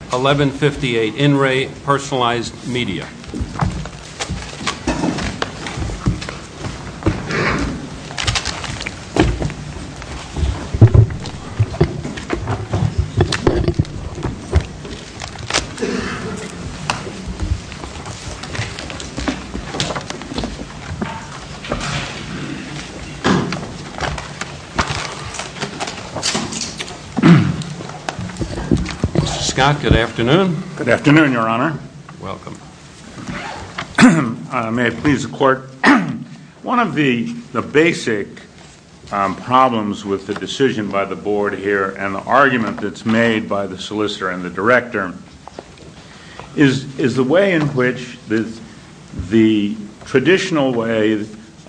1158 NRE PERSONALIZED MEDIA Mr. Scott, good afternoon. Good afternoon, Your Honor. Welcome. May it please the Court, one of the basic problems with the decision by the Board here and the argument that's made by the solicitor and the director is the way in which the traditional way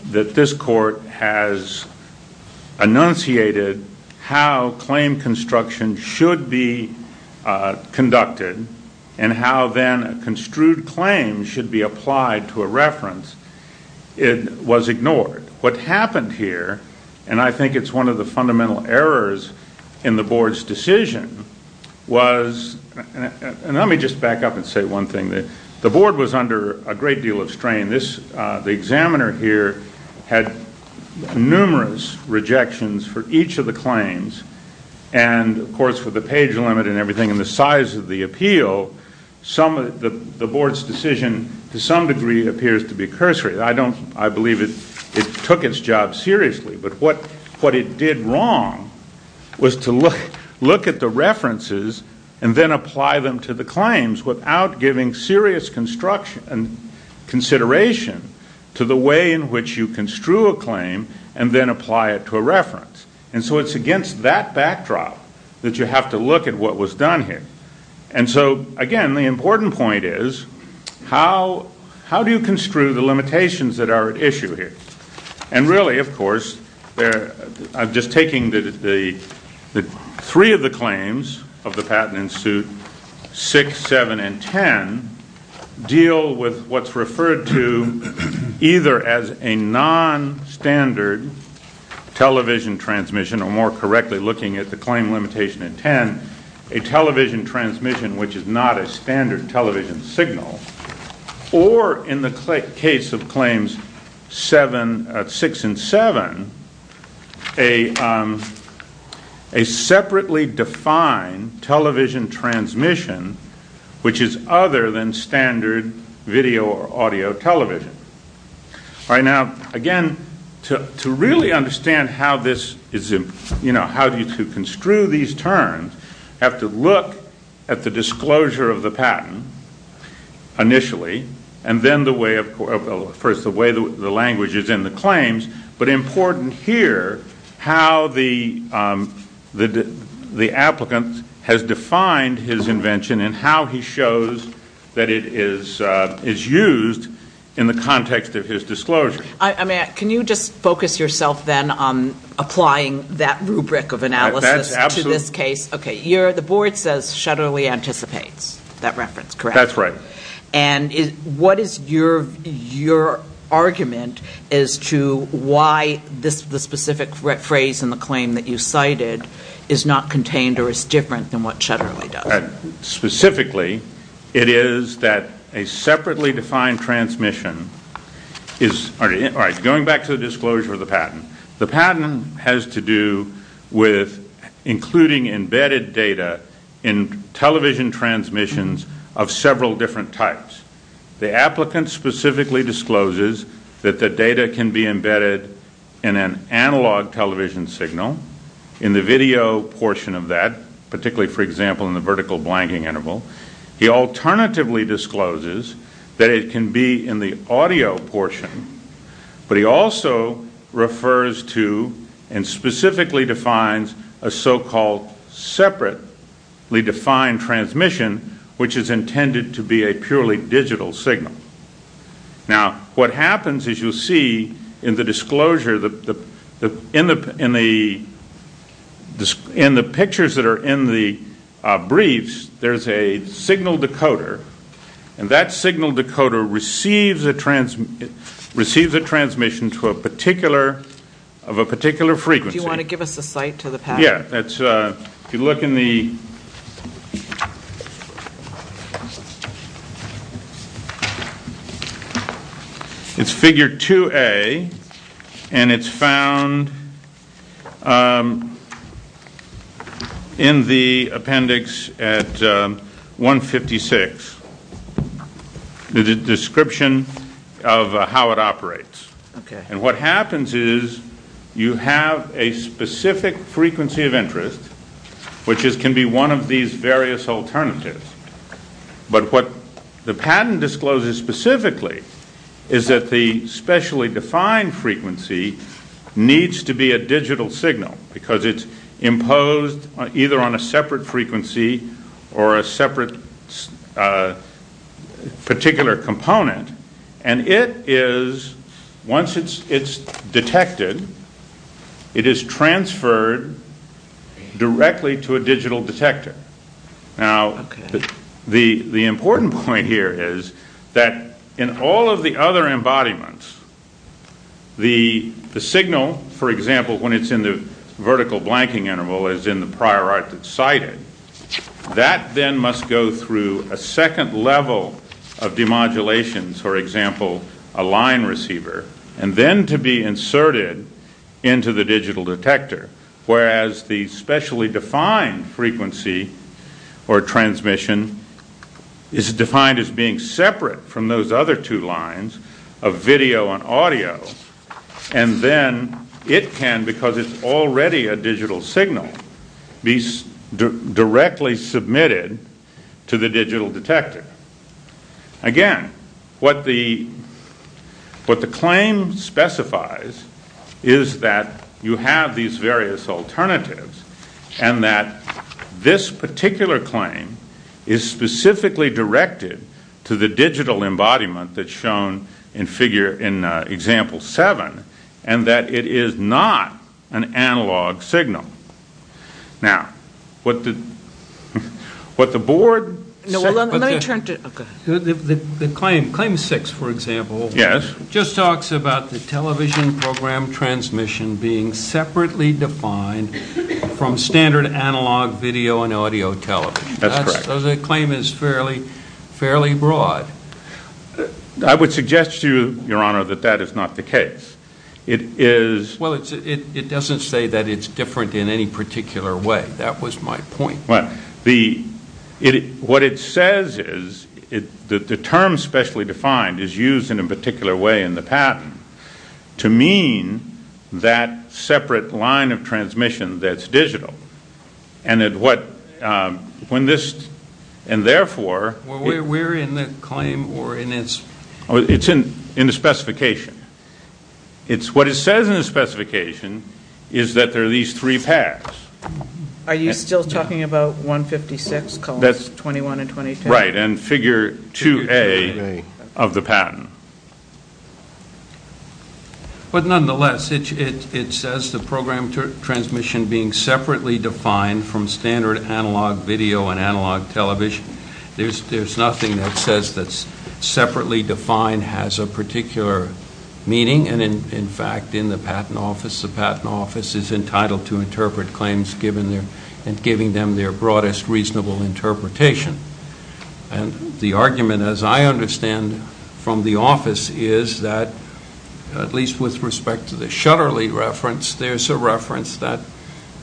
that this Court has enunciated how claim construction should be conducted and how then a construed claim should be applied to a reference, it was ignored. What happened here, and I think it's one of the fundamental errors in the Board's decision, was and let me just back up and say one thing, the Board was under a great deal of strain. This, the examiner here had numerous rejections for each of the claims and of course with the page limit and everything and the size of the appeal, the Board's decision to some degree appears to be cursory. I believe it took its job seriously, but what it did wrong was to look at the references apply them to the claims without giving serious consideration to the way in which you construe a claim and then apply it to a reference. And so it's against that backdrop that you have to look at what was done here. And so, again, the important point is how do you construe the limitations that are at issue here? And really, of course, I'm just taking the three of the claims of the patent in suit 6, 7, and 10 deal with what's referred to either as a non-standard television transmission or more correctly looking at the claim limitation in 10, a television transmission which is not a standard television signal, or in the case of claims 6 and 7, a separately defined television transmission which is other than standard video or audio television. All right, now, again, to really understand how this is, you know, how to construe these terms, you have to look at the disclosure of the patent initially, and then the way of, first, the way the language is in the claims, but important here how the applicant has defined his invention and how he shows that it is used in the context of his disclosure. I mean, can you just focus yourself then on applying that rubric of analysis to this case? Okay, the board says Shetterly anticipates that reference, correct? That's right. And what is your argument as to why the specific phrase in the claim that you cited is not contained or is different than what Shetterly does? Specifically, it is that a separately defined transmission is, all right, going back to the disclosure of the patent, the patent has to do with including embedded data in television transmissions of several different types. The applicant specifically discloses that the data can be embedded in an analog television signal in the video portion of that, particularly, for example, in the vertical blanking interval. He alternatively discloses that it can be in the audio portion, but he also refers to and specifically defines a so-called separately defined transmission, which is intended to be a purely digital signal. Now, what happens is you'll see in the pictures that are in the briefs, there's a signal decoder, and that signal decoder receives a transmission of a particular frequency. Do you want to give us a cite to the patent? Yeah. If you look in the, it's figure 2A, and it's found in the appendix at 156, the description of how it operates. What happens is you have a specific frequency of interest, which can be one of these various alternatives, but what the patent discloses specifically is that the specially defined frequency needs to be a digital signal because it's imposed either on a separate frequency or a separate particular component, and it is, once it's detected, it is transferred directly to a digital detector. Now, the important point here is that in all of the other embodiments, the signal, for example, blanking interval is in the prior art that's cited, that then must go through a second level of demodulations, for example, a line receiver, and then to be inserted into the digital detector, whereas the specially defined frequency or transmission is defined as being separate from those other two lines of video and audio, and then it can, because it's already a digital signal, be directly submitted to the digital detector. Again, what the claim specifies is that you have these various alternatives and that this particular claim is specifically directed to the digital embodiment that's shown in example seven and that it is not an analog signal. Now, what the board... No, let me turn to... Okay. The claim, claim six, for example, just talks about the television program transmission being separately defined from standard analog video and audio television. That's correct. So the claim is fairly broad. I would suggest to you, Your Honor, that that is not the case. It is... Well, it doesn't say that it's different in any particular way. That was my point. What it says is that the term specially defined is used in a particular way in the patent to mean that separate line of transmission that's digital, and that what, when this, and therefore... We're in the claim or in its... It's in the specification. It's what it says in the specification is that there are these three paths. Are you still talking about 156 columns, 21 and 22? Right, and figure 2A of the patent. But nonetheless, it says the program transmission being separately defined from standard analog video and analog television. There's nothing that says that separately defined has a particular meaning, and in fact, in the patent office, the patent office is entitled to interpret claims given their, and giving them their broadest reasonable interpretation. And the argument, as I understand from the office, is that, at least with respect to the Shutterly reference, there's a reference that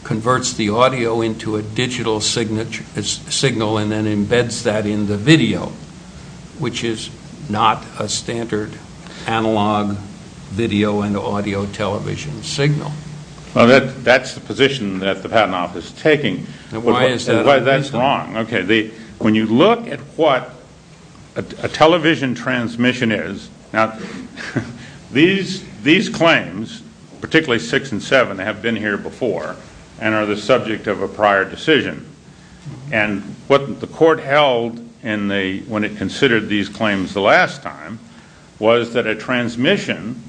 converts the audio into a digital signal and then embeds that in the video, which is not a standard analog video and audio television signal. Well, that's the position that the patent office is taking, and why that's wrong. When you look at what a television transmission is, now these claims, particularly 6 and 7, have been here before and are the subject of a prior decision. And what the court held when it considered these claims the last time was that a transmission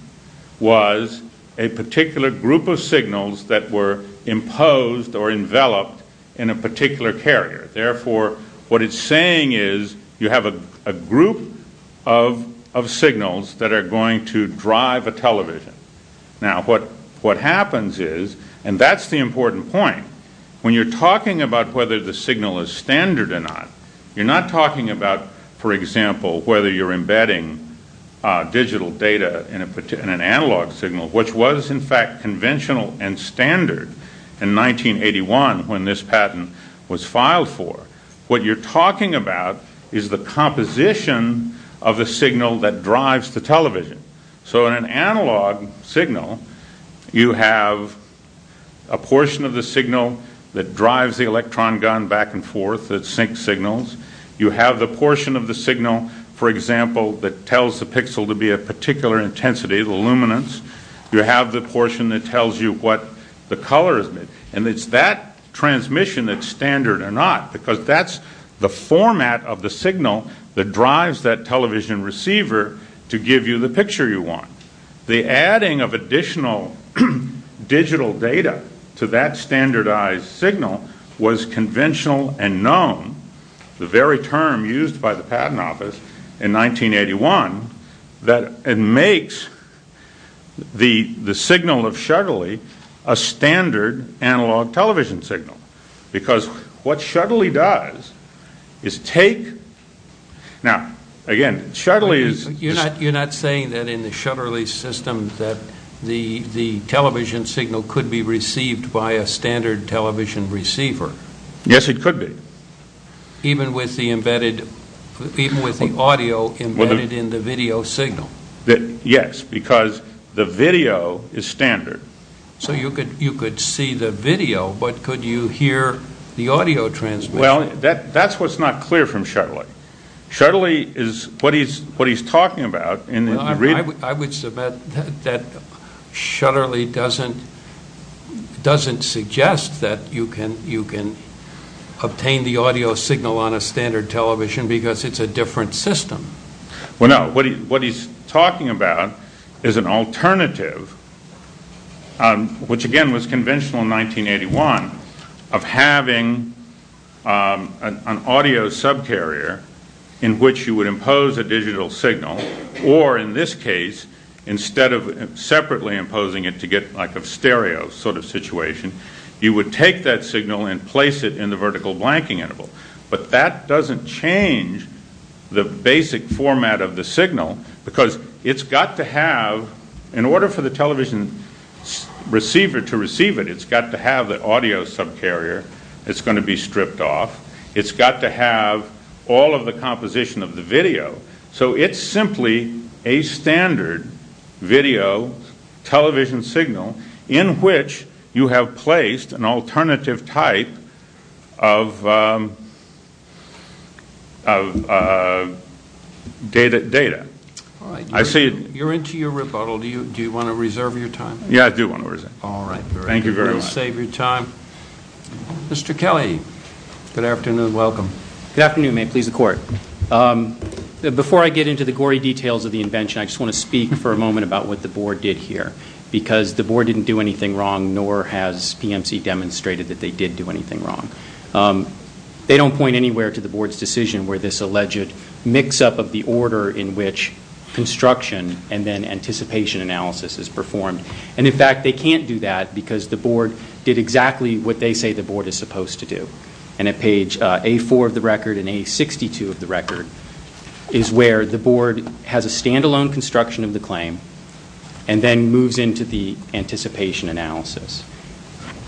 was a particular group of signals that were imposed or enveloped in a particular carrier. Therefore, what it's saying is you have a group of signals that are going to drive a television. Now, what happens is, and that's the important point. When you're talking about whether the signal is standard or not, you're not talking about, for example, whether you're embedding digital data in an analog signal, which was in fact conventional and standard in 1981 when this patent was filed for. What you're talking about is the composition of the signal that drives the television. So in an analog signal, you have a portion of the signal that drives the electron gun back and forth that syncs signals. You have the portion of the signal, for example, that tells the pixel to be a particular intensity, the luminance. You have the portion that tells you what the color is. And it's that transmission that's standard or not, because that's the format of the signal that drives that television receiver to give you the picture you want. The adding of additional digital data to that standardized signal was conventional and known, the very term used by the Patent Office in 1981, that it makes the signal of Shutterly a standard analog television signal, because what Shutterly does is take, now again, Shutterly is... You're not saying that in the Shutterly system that the television signal could be received by a standard television receiver? Yes, it could be. Even with the audio embedded in the video signal? Yes, because the video is standard. So you could see the video, but could you hear the audio transmission? Well, that's what's not clear from Shutterly. Shutterly is what he's talking about. I would submit that Shutterly doesn't suggest that you can obtain the audio signal on a standard television because it's a different system. Well, no. What he's talking about is an alternative, which again was conventional in 1981, of having an audio subcarrier in which you would impose a digital signal, or in this case, instead of separately imposing it to get like a stereo sort of situation, you would take that signal and place it in the vertical blanking interval. But that doesn't change the basic format of the signal, because it's got to have... In order for the television receiver to receive it, it's got to have the audio subcarrier that's going to be stripped off. It's got to have all of the composition of the video. So it's simply a standard video television signal in which you have placed an alternative type of data. You're into your rebuttal. Do you want to reserve your time? Yeah, I do want to reserve it. All right. Thank you very much. Thank you. I'm going to save your time. Mr. Kelly. Good afternoon. Welcome. Good afternoon. May it please the court. Before I get into the gory details of the invention, I just want to speak for a moment about what the board did here, because the board didn't do anything wrong, nor has PMC demonstrated that they did do anything wrong. They don't point anywhere to the board's decision where this alleged mix-up of the order in which construction and then anticipation analysis is performed. In fact, they can't do that because the board did exactly what they say the board is supposed to do. At page A4 of the record and A62 of the record is where the board has a standalone construction of the claim and then moves into the anticipation analysis.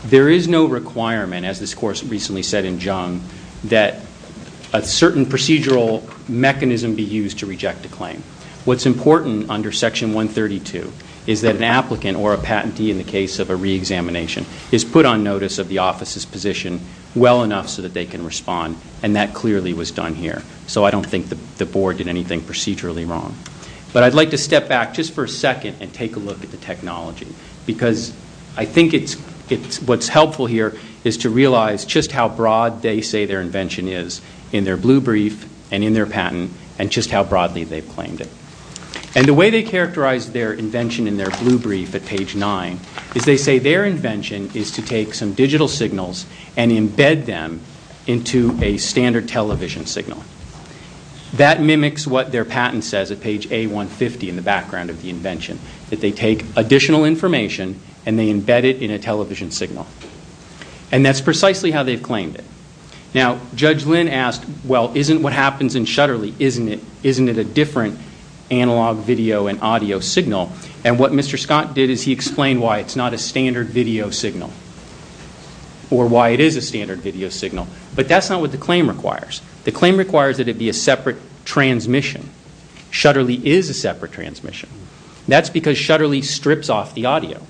There is no requirement, as this course recently said in Jung, that a certain procedural mechanism be used to reject a claim. What's important under section 132 is that an applicant or a patentee in the case of a re-examination is put on notice of the office's position well enough so that they can respond, and that clearly was done here. So I don't think the board did anything procedurally wrong. But I'd like to step back just for a second and take a look at the technology, because I think what's helpful here is to realize just how broad they say their invention is in their blue brief and in their patent and just how broadly they've claimed it. And the way they characterize their invention in their blue brief at page 9 is they say their invention is to take some digital signals and embed them into a standard television signal. That mimics what their patent says at page A150 in the background of the invention, that they take additional information and they embed it in a television signal. And that's precisely how they've claimed it. Now, Judge Lynn asked, well, isn't what happens in Shutterly, isn't it a different analog video and audio signal? And what Mr. Scott did is he explained why it's not a standard video signal or why it is a standard video signal. But that's not what the claim requires. The claim requires that it be a separate transmission. Shutterly is a separate transmission. That's because Shutterly strips off the audio,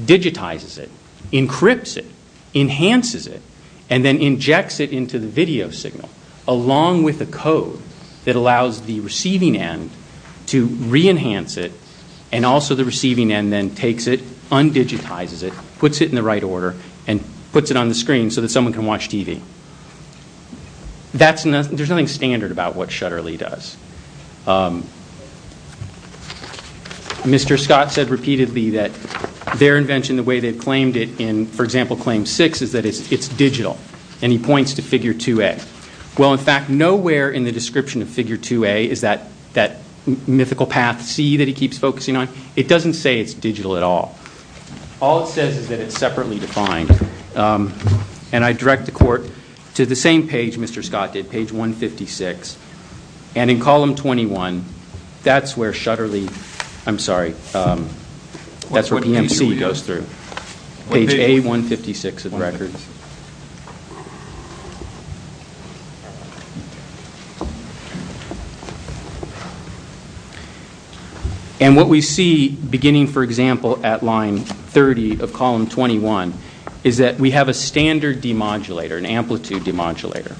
digitizes it, encrypts it, enhances it, and then injects it into the video signal along with a code that allows the receiving end to re-enhance it and also the receiving end then takes it, un-digitizes it, puts it in the right order, and puts it on the screen so that someone can watch TV. That's nothing, there's nothing standard about what Shutterly does. Mr. Scott said repeatedly that their invention, the way they've claimed it in, for example, claim six is that it's digital and he points to figure 2A. Well, in fact, nowhere in the description of figure 2A is that mythical path C that he keeps focusing on. It doesn't say it's digital at all. All it says is that it's separately defined. And I direct the court to the same page Mr. Scott did, page 156. And in column 21, that's where Shutterly, I'm sorry, that's where PMC goes through. Page A156 of the record. And what we see beginning, for example, at line 30 of column 21 is that we have a standard demodulator, an amplitude demodulator.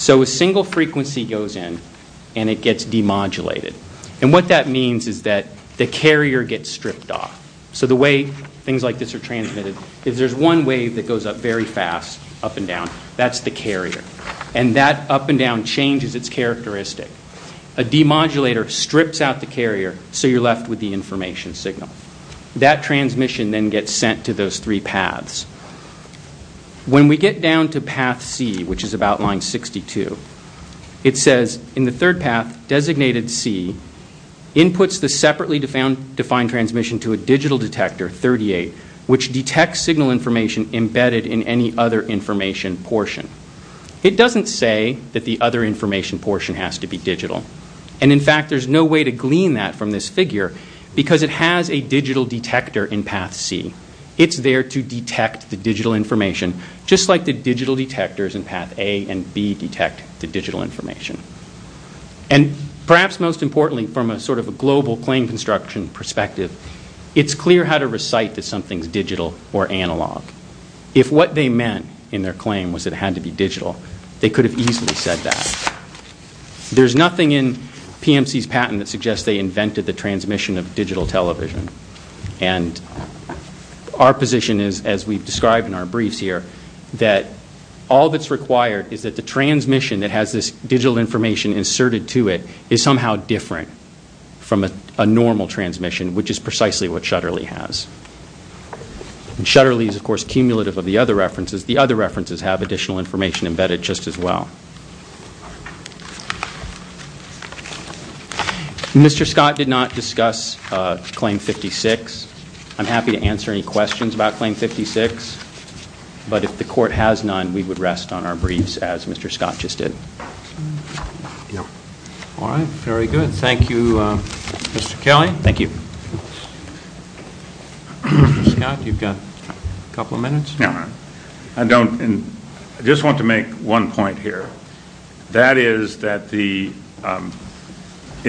So a single frequency goes in and it gets demodulated. And what that means is that the carrier gets stripped off. So the way things like this are transmitted, if there's one wave that goes up very fast, up and down, that's the carrier. And that up and down changes its characteristic. A demodulator strips out the carrier, so you're left with the information signal. That transmission then gets sent to those three paths. When we get down to path C, which is about line 62, it says, in the third path, designated C, inputs the separately defined transmission to a digital detector, 38, which detects signal information embedded in any other information portion. It doesn't say that the other information portion has to be digital. And in fact, there's no way to glean that from this figure, because it has a digital detector in path C. It's there to detect the digital information, just like the digital detectors in path A and B detect the digital information. And perhaps most importantly, from a sort of a global claim construction perspective, it's clear how to recite that something's digital or analog. If what they meant in their claim was it had to be digital, they could have easily said that. There's nothing in PMC's patent that suggests they invented the transmission of digital television. And our position is, as we've described in our briefs here, that all that's required is that the transmission that has this digital information inserted to it is somehow different from a normal transmission, which is precisely what Shutterly has. Shutterly is, of course, cumulative of the other references. The other references have additional information embedded just as well. Mr. Scott did not discuss Claim 56. I'm happy to answer any questions about Claim 56. But if the court has none, we would rest on our briefs as Mr. Scott just did. All right. Very good. Thank you, Mr. Kelly. Thank you. Mr. Scott, you've got a couple of minutes. No, I don't. And I just want to make one point here. That is that it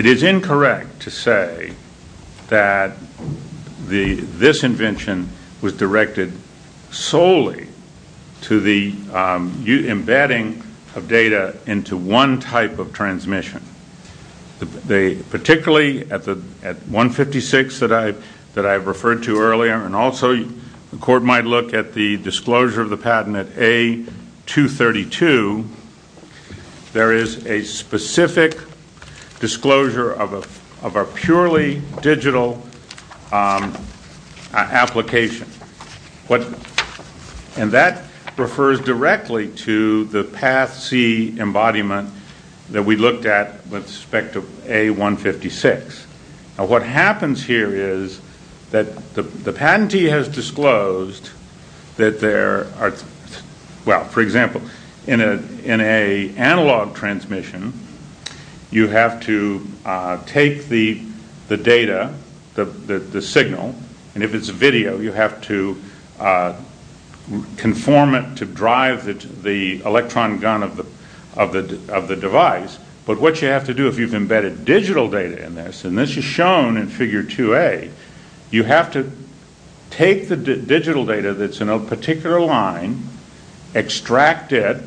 is incorrect to say that this invention was directed solely to the embedding of data into one type of transmission, particularly at 156 that I referred to earlier. And also, the court might look at the disclosure of the patent at A232. There is a specific disclosure of a purely digital application. And that refers directly to the Path C embodiment that we looked at with respect to A156. What happens here is that the patentee has disclosed that there are, well, for example, in an analog transmission, you have to take the data, the signal. And if it's video, you have to conform it to drive the electron gun of the device. But what you have to do if you've embedded digital data in this, and this is shown in figure 2A, you have to take the digital data that's in a particular line, extract it,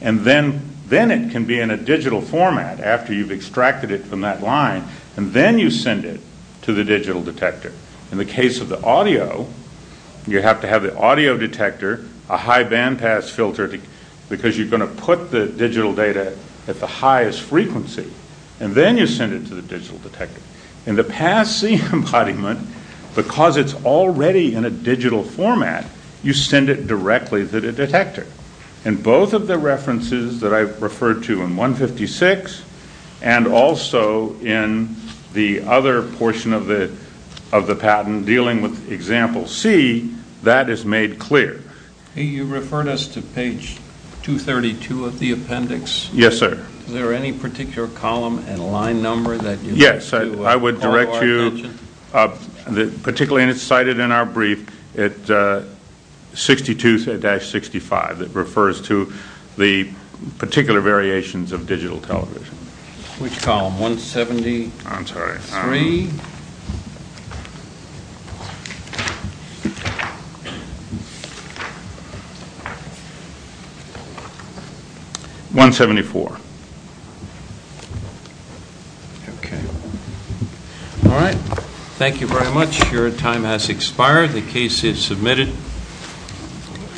and then it can be in a digital format after you've extracted it from that line. And then you send it to the digital detector. In the case of the audio, you have to have the audio detector, a high bandpass filter, because you're going to put the digital data at the highest frequency. And then you send it to the digital detector. In the Path C embodiment, because it's already in a digital format, you send it directly to the detector. And both of the references that I've referred to in 156 and also in the other portion of the patent dealing with example C, that is made clear. Hey, you referred us to page 232 of the appendix. Yes, sir. Is there any particular column and line number that you would like to call our attention? Yes, I would direct you, particularly, and it's cited in our brief, at 62-65 that refers to the particular variations of digital television. Which column, 173? 174. Okay. All right. Thank you very much. Your time has expired. The case is submitted.